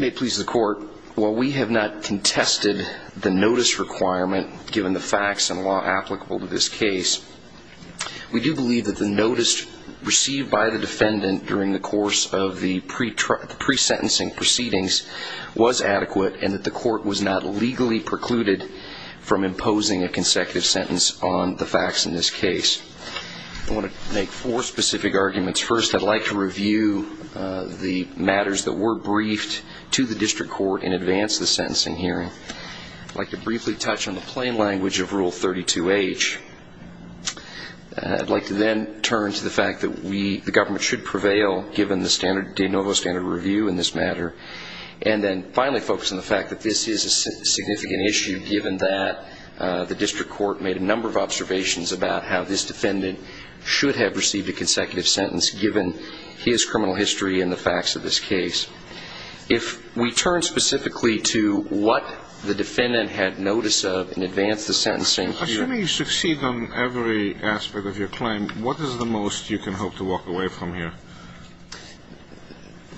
May it please the court, while we have not contested the notice requirement given the facts and law applicable to this case, we do believe that the notice received by the defendant during the course of the pre-sentencing proceedings was adequate and that the court was not legally precluded from imposing a consecutive sentence on the facts in this case. I want to make four specific arguments. First, I'd like to review the matters that were briefed to the district court in advance of the sentencing hearing. I'd like to briefly touch on the plain language of Rule 32H. I'd like to then turn to the fact that the government should prevail, given the standard de novo standard review in this matter, and then finally focus on the fact that this is a significant issue, given that the district court made a number of observations about how this defendant should have received a consecutive sentence, given his criminal history and the facts of this case. If we turn specifically to what the defendant had notice of in advance of the sentencing hearing. Assuming you succeed on every aspect of your claim, what is the most you can hope to walk away from here?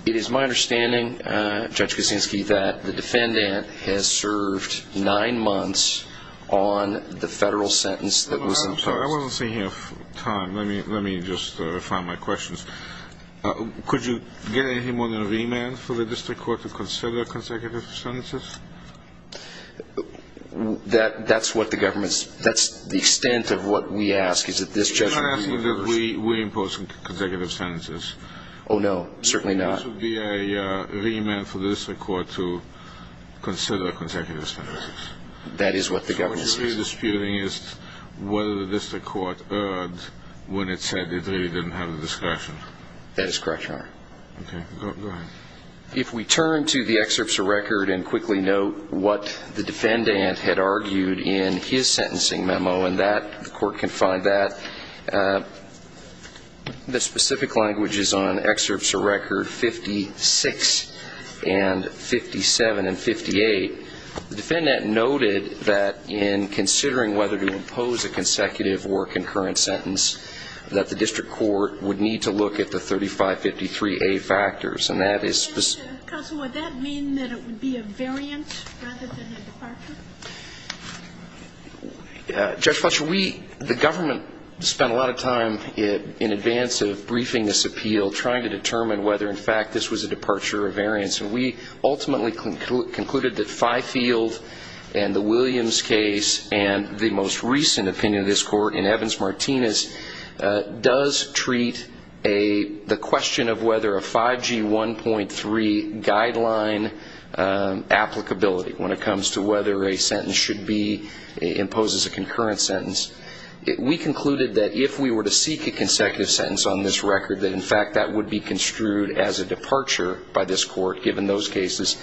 It is my understanding, Judge Kuczynski, that the defendant has served nine months on the federal sentence that was imposed. I'm sorry, I wasn't seeing enough time. Let me just refine my questions. Could you get him on a remand for the district court to consider consecutive sentences? That's what the government's – that's the extent of what we ask, is that this judge – Oh, no, certainly not. Could this be a remand for the district court to consider consecutive sentences? That is what the government says. So what you're really disputing is whether the district court erred when it said it really didn't have the discretion. That is correct, Your Honor. Okay, go ahead. If we turn to the excerpts of record and quickly note what the defendant had argued in his sentencing memo, and that – the court can find that – the specific languages on excerpts of record 56 and 57 and 58, the defendant noted that in considering whether to impose a consecutive or concurrent sentence, that the district court would need to look at the 3553A factors. And that is – Counsel, would that mean that it would be a variant rather than a departure? Judge Fletcher, we – the government spent a lot of time in advance of briefing this appeal, trying to determine whether, in fact, this was a departure or variance. And we ultimately concluded that Fifield and the Williams case and the most recent opinion of this court in Evans-Martinez does treat a – imposes a concurrent sentence. We concluded that if we were to seek a consecutive sentence on this record, that, in fact, that would be construed as a departure by this court given those cases,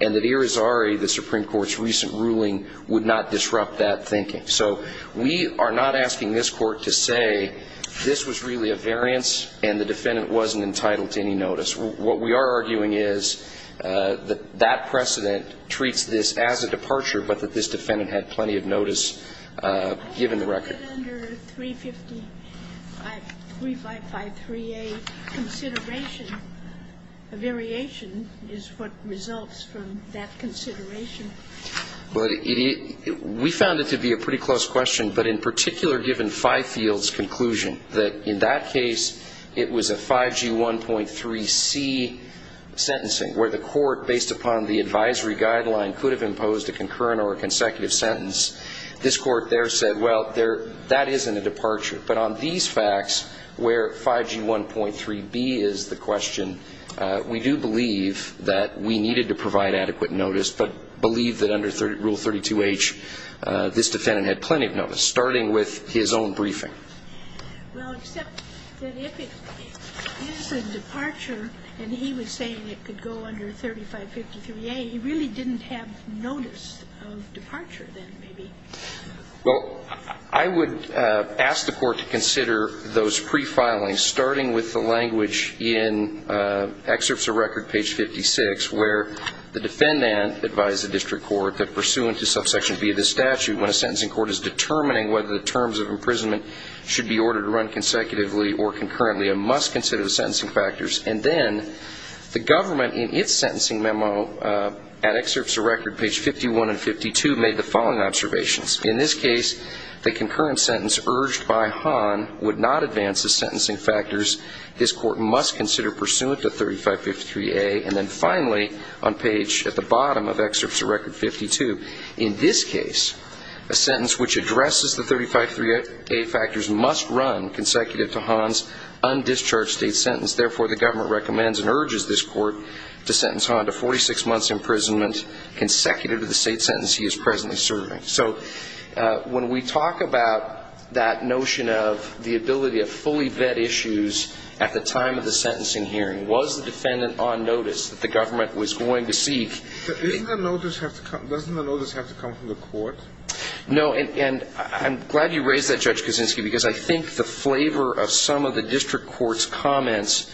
and that Irizarry, the Supreme Court's recent ruling, would not disrupt that thinking. So we are not asking this court to say this was really a variance and the defendant wasn't entitled to any notice. What we are arguing is that that precedent treats this as a departure, but that this defendant had plenty of notice given the record. Under 3553A consideration, a variation is what results from that consideration. But it – we found it to be a pretty close question, but in particular given Fifield's conclusion, that in that case it was a 5G1.3C sentencing, where the court, based upon the advisory guideline, could have imposed a concurrent or a consecutive sentence, this court there said, well, there – that isn't a departure. But on these facts, where 5G1.3B is the question, we do believe that we needed to provide adequate notice, starting with his own briefing. Well, except that if it is a departure and he was saying it could go under 3553A, he really didn't have notice of departure then, maybe. Well, I would ask the court to consider those prefilings, starting with the language in Excerpts of Record, page 56, where the defendant advised the district court that, pursuant to subsection B of this statute, when a sentencing court is determining whether the terms of imprisonment should be ordered to run consecutively or concurrently, it must consider the sentencing factors. And then the government, in its sentencing memo, at Excerpts of Record, page 51 and 52, made the following observations. In this case, the concurrent sentence urged by Hahn would not advance the sentencing factors. This court must consider pursuant to 3553A. And then finally, on page – at the bottom of Excerpts of Record 52, in this case, a sentence which addresses the 3553A factors must run consecutive to Hahn's undischarged state sentence. Therefore, the government recommends and urges this court to sentence Hahn to 46 months' imprisonment consecutive to the state sentence he is presently serving. So when we talk about that notion of the ability of fully vet issues at the time of the sentencing hearing, was the defendant on notice that the government was going to seek Doesn't the notice have to come from the court? No. And I'm glad you raised that, Judge Kuczynski, because I think the flavor of some of the district court's comments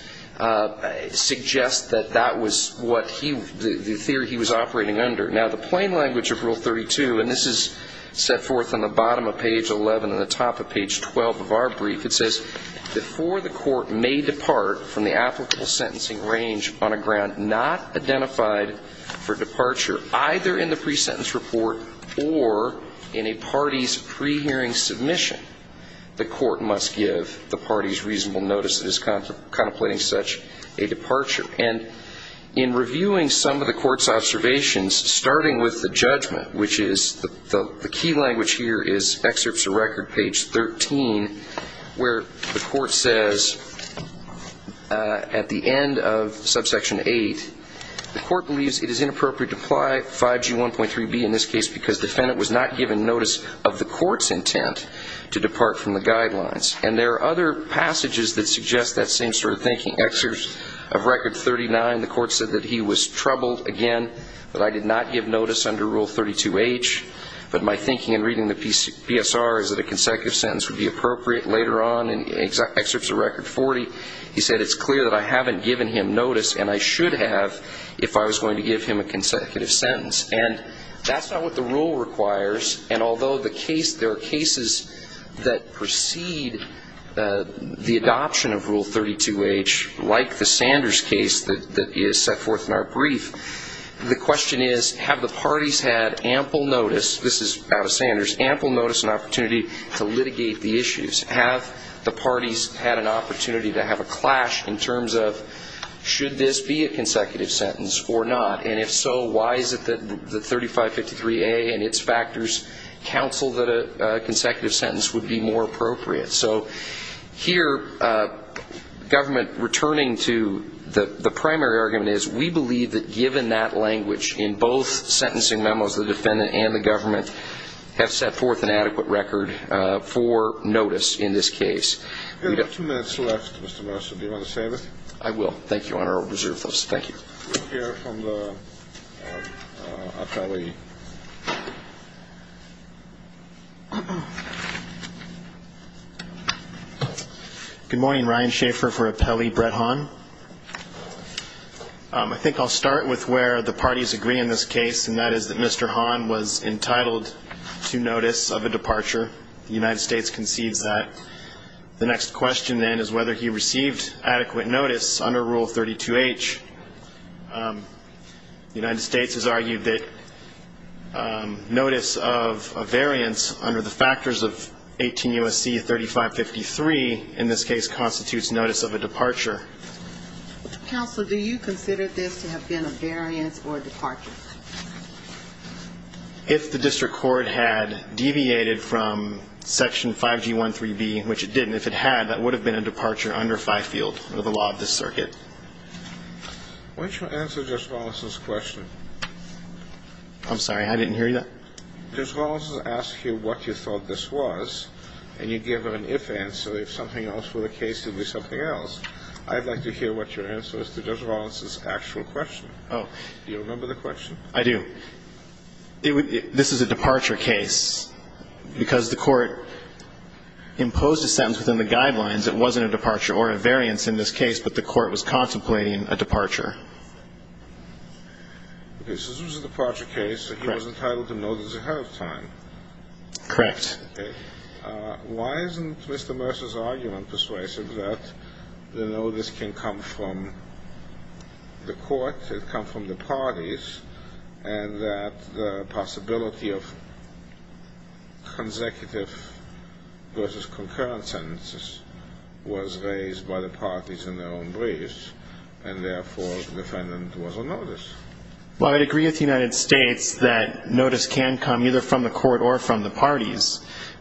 suggest that that was what he – the theory he was operating under. Now, the plain language of Rule 32 – and this is set forth on the bottom of page 11 and the top of page 12 of our brief – it says, before the court may depart from the applicable sentencing range on a ground not identified for departure, either in the pre-sentence report or in a party's pre-hearing submission, the court must give the party's reasonable notice that is contemplating such a departure. And in reviewing some of the court's observations, starting with the judgment, which is – the key language here is excerpts of record, page 13, where the court says, at the end of subsection 8, the court believes it is inappropriate to apply 5G1.3b in this case because defendant was not given notice of the court's intent to depart from the guidelines. And there are other passages that suggest that same sort of thinking. Excerpts of record 39, the court said that he was troubled, again, that I did not give notice under Rule 32H, but my thinking in reading the PSR is that a consecutive sentence would be appropriate later on. And excerpts of record 40, he said it's clear that I haven't given him notice and I should have if I was going to give him a consecutive sentence. And that's not what the rule requires. And although there are cases that precede the adoption of Rule 32H, like the Sanders case that is set forth in our brief, the question is, have the parties had ample notice – this is out of Sanders – ample notice and opportunity to litigate the issues? Have the parties had an opportunity to have a clash in terms of, should this be a consecutive sentence or not? And if so, why is it that the 3553A and its factors counsel that a consecutive sentence would be more appropriate? So here, government returning to the primary argument is, we believe that given that language in both sentencing memos, the defendant and the government have set forth an adequate record for notice in this case. We have two minutes left, Mr. Mercer. Do you want to save it? I will. Thank you, Your Honor. I'll reserve those. Thank you. We'll hear from the appellee. Good morning. Ryan Schaefer for Appellee Brett Hahn. I think I'll start with where the parties agree in this case, and that is that Mr. Hahn was entitled to notice of a departure. The United States concedes that. The next question, then, is whether he received adequate notice under Rule 32H. The United States has argued that notice of a variance under the factors of 18 U.S.C. 3553, in this case, constitutes notice of a departure. Counsel, do you consider this to have been a variance or a departure? If the district court had deviated from Section 5G13B, which it didn't, if it had, that would have been a departure under Fifield or the law of this circuit. Why don't you answer Judge Rollins' question? I'm sorry. I didn't hear you. Judge Rollins asked you what you thought this was, and you gave her an if answer. If something else were the case, it would be something else. I'd like to hear what your answer is to Judge Rollins' actual question. Oh. Do you remember the question? I do. This is a departure case. Because the court imposed a sentence within the guidelines, it wasn't a departure or a variance in this case, but the court was contemplating a departure. Okay. So this was a departure case. Correct. He was entitled to notice ahead of time. Correct. Okay. Why isn't Mr. Mercer's argument persuasive that the notice can come from the court, it can come from the parties, and that the possibility of consecutive versus concurrent sentences was raised by the parties in their own briefs, and therefore the defendant was on notice? Well, I would agree with the United States that notice can come either from the court or from the parties.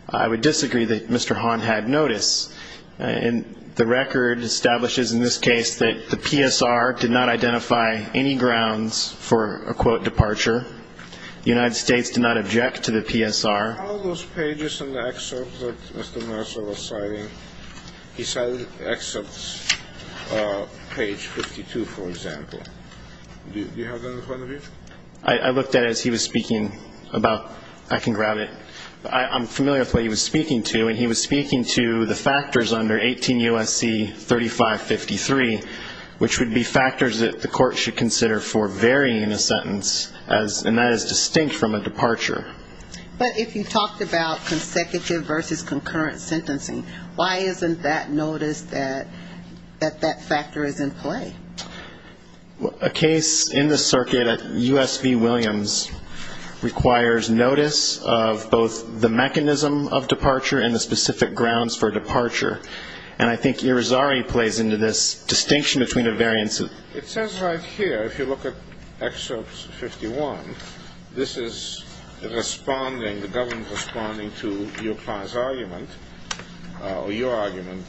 I would disagree that Mr. Hahn had notice. And the record establishes in this case that the PSR did not identify any grounds for a, quote, departure. The United States did not object to the PSR. How are those pages in the excerpt that Mr. Mercer was citing? He cited excerpt page 52, for example. Do you have that in front of you? I looked at it as he was speaking about I can grab it. I'm familiar with what he was speaking to, and he was speaking to the factors under 18 U.S.C. 3553, which would be factors that the court should consider for varying a sentence, and that is distinct from a departure. But if you talked about consecutive versus concurrent sentencing, why isn't that notice that that factor is in play? A case in the circuit at U.S.V. Williams requires notice of both the mechanism of departure and the specific grounds for departure. And I think Irizarry plays into this distinction between the variances. It says right here, if you look at excerpt 51, this is responding, the government responding to your client's argument, or your argument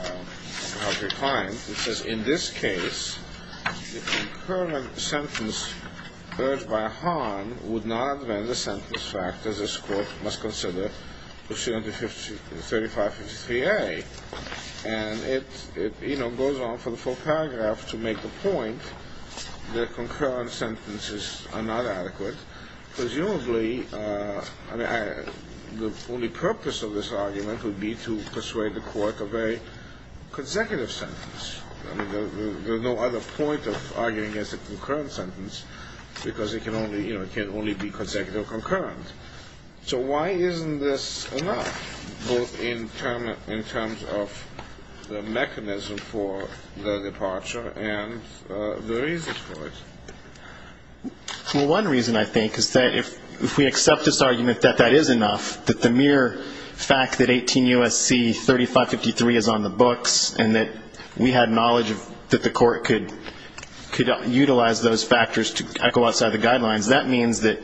of your client. It says, in this case, the concurrent sentence urged by a harm would not amend the sentence factors this court must consider proceeding to 3553A. And it goes on for the full paragraph to make the point that concurrent sentences are not adequate. Presumably, I mean, the only purpose of this argument would be to persuade the court to accept a very consecutive sentence. I mean, there's no other point of arguing against a concurrent sentence because it can only be consecutive or concurrent. So why isn't this enough, both in terms of the mechanism for the departure and the reasons for it? Well, one reason, I think, is that if we accept this argument that that is enough, that the mere fact that 18 U.S.C. 3553 is on the books and that we had knowledge that the court could utilize those factors to echo outside the guidelines, that means that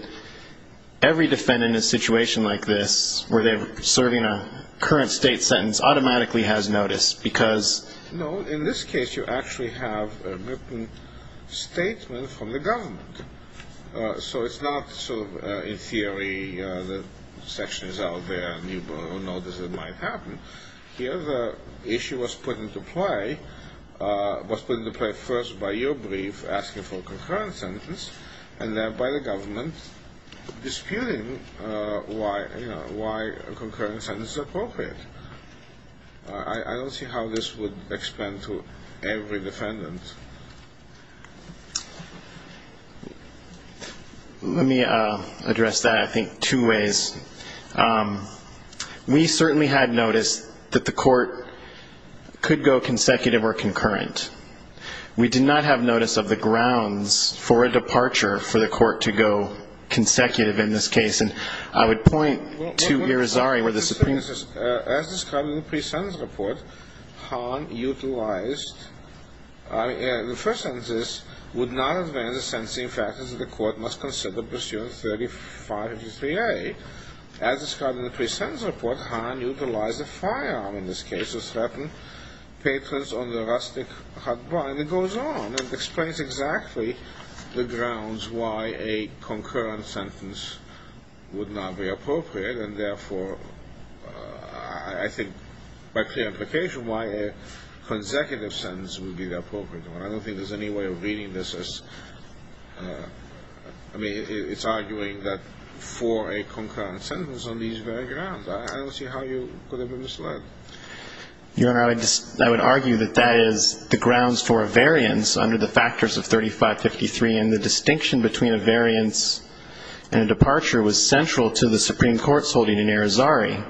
every defendant in a situation like this where they're serving a current state sentence automatically has notice because ‑‑ No, in this case, you actually have a written statement from the government. So it's not sort of, in theory, the section is out there and you will notice it might happen. Here, the issue was put into play first by your brief asking for a concurrent sentence and then by the government disputing why a concurrent sentence is appropriate. I don't see how this would explain to every defendant. Let me address that, I think, two ways. We certainly had notice that the court could go consecutive or concurrent. We did not have notice of the grounds for a departure for the court to go consecutive in this case. And I would point to Irizarry where the Supreme ‑‑ As described in the pre-sentence report, Han utilized ‑‑ The first sentence is, would not advance the sentencing factors that the court must consider pursuant to 3553A. As described in the pre-sentence report, Han utilized a firearm in this case to threaten patrons on the rustic hut block. And it goes on and explains exactly the grounds why a concurrent sentence would not be appropriate and, therefore, I think by clear implication, why a consecutive sentence would be the appropriate one. I don't think there's any way of reading this as ‑‑ I mean, it's arguing that for a concurrent sentence on these very grounds. I don't see how you could have been misled. Your Honor, I would argue that that is the grounds for a variance under the factors of 3553 and the distinction between a variance and a departure was central to the Supreme Court's holding in Irizarry,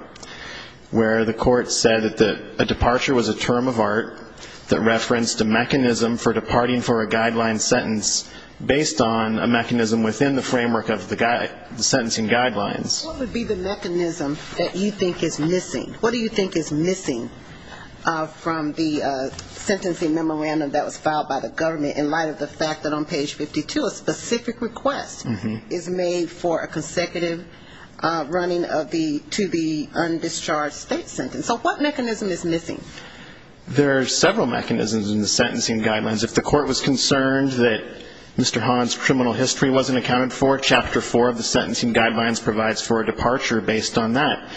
where the court said that a departure was a term of art that referenced a mechanism for departing for a guideline sentence based on a mechanism within the framework of the sentencing guidelines. What would be the mechanism that you think is missing? What do you think is missing from the sentencing memorandum that was filed by the government in light of the fact that on page 52, a specific request is made for a consecutive running of the to the undischarged state sentence? So what mechanism is missing? There are several mechanisms in the sentencing guidelines. If the court was concerned that Mr. Hahn's criminal history wasn't accounted for, Chapter 4 of the sentencing guidelines provides for a departure based on that.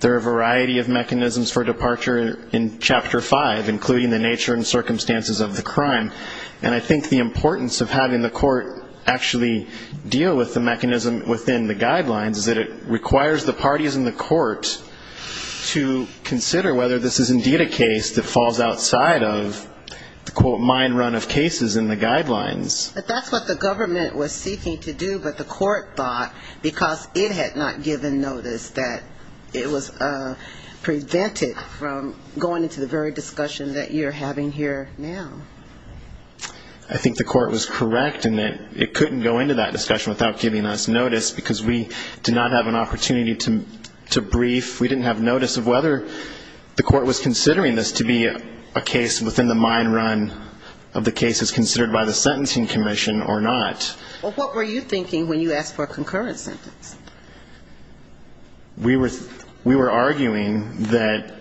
There are a variety of mechanisms for departure in Chapter 5, including the nature and circumstances of the crime. And I think the importance of having the court actually deal with the mechanism within the guidelines is that it requires the parties in the court to consider whether this is indeed a case that falls outside of the, quote, mind run of cases in the guidelines. But that's what the government was seeking to do, but the court thought because it had not given notice that it was prevented from going into the very discussion that you're having here now. I think the court was correct in that it couldn't go into that discussion without giving us notice, because we did not have an opportunity to brief, we didn't have notice of whether the court was considering this to be a case within the mind run of the cases considered by the Sentencing Commission or not. Well, what were you thinking when you asked for a concurrent sentence? We were arguing that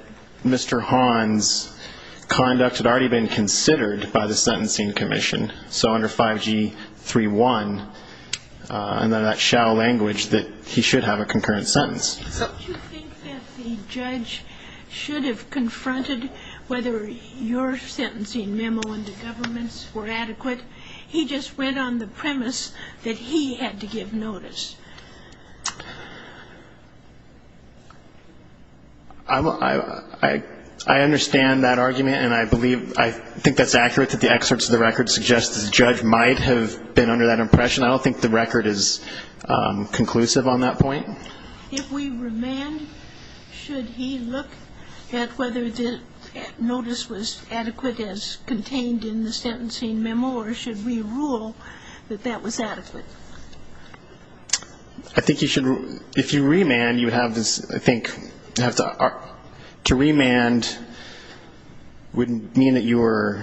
Mr. Hahn's conduct had already been considered by the Sentencing Commission. So under 5G31, under that shall language, that he should have a concurrent sentence. Don't you think that the judge should have confronted whether your sentencing memo and the government's were adequate? He just went on the premise that he had to give notice. I understand that argument, and I believe, I think that's accurate that the excerpts of the record suggest that the judge might have been under that impression. I don't think the record is conclusive on that point. If we remand, should he look at whether the notice was adequate as contained in the sentencing memo, or should we rule that that was adequate? I think if you remand, you would have this, I think, to remand would mean that you were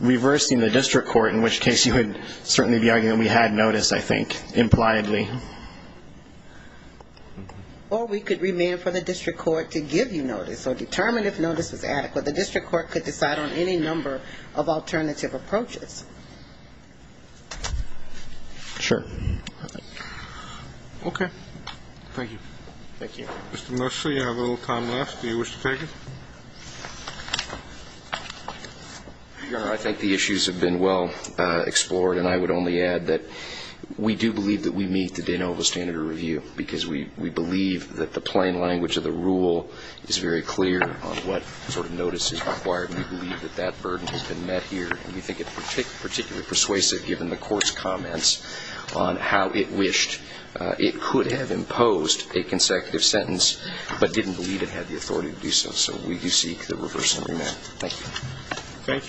reversing the district court, in which case you would certainly be arguing that we had notice, I think, impliedly. Or we could remand for the district court to give you notice or determine if notice was adequate. The district court could decide on any number of alternative approaches. Sure. Okay. Thank you. Mr. Mercer, you have a little time left. Do you wish to take it? Your Honor, I think the issues have been well explored, and I would only add that we do believe that we meet the de novo standard of review, because we believe that the plain language of the rule is very clear on what sort of notice is required, and we believe that that burden has been met here, and we think it's particularly persuasive, given the Court's comments on how it wished it could have imposed a consecutive sentence, but didn't believe it had the authority to do so. So we do seek the reversing remand. Thank you.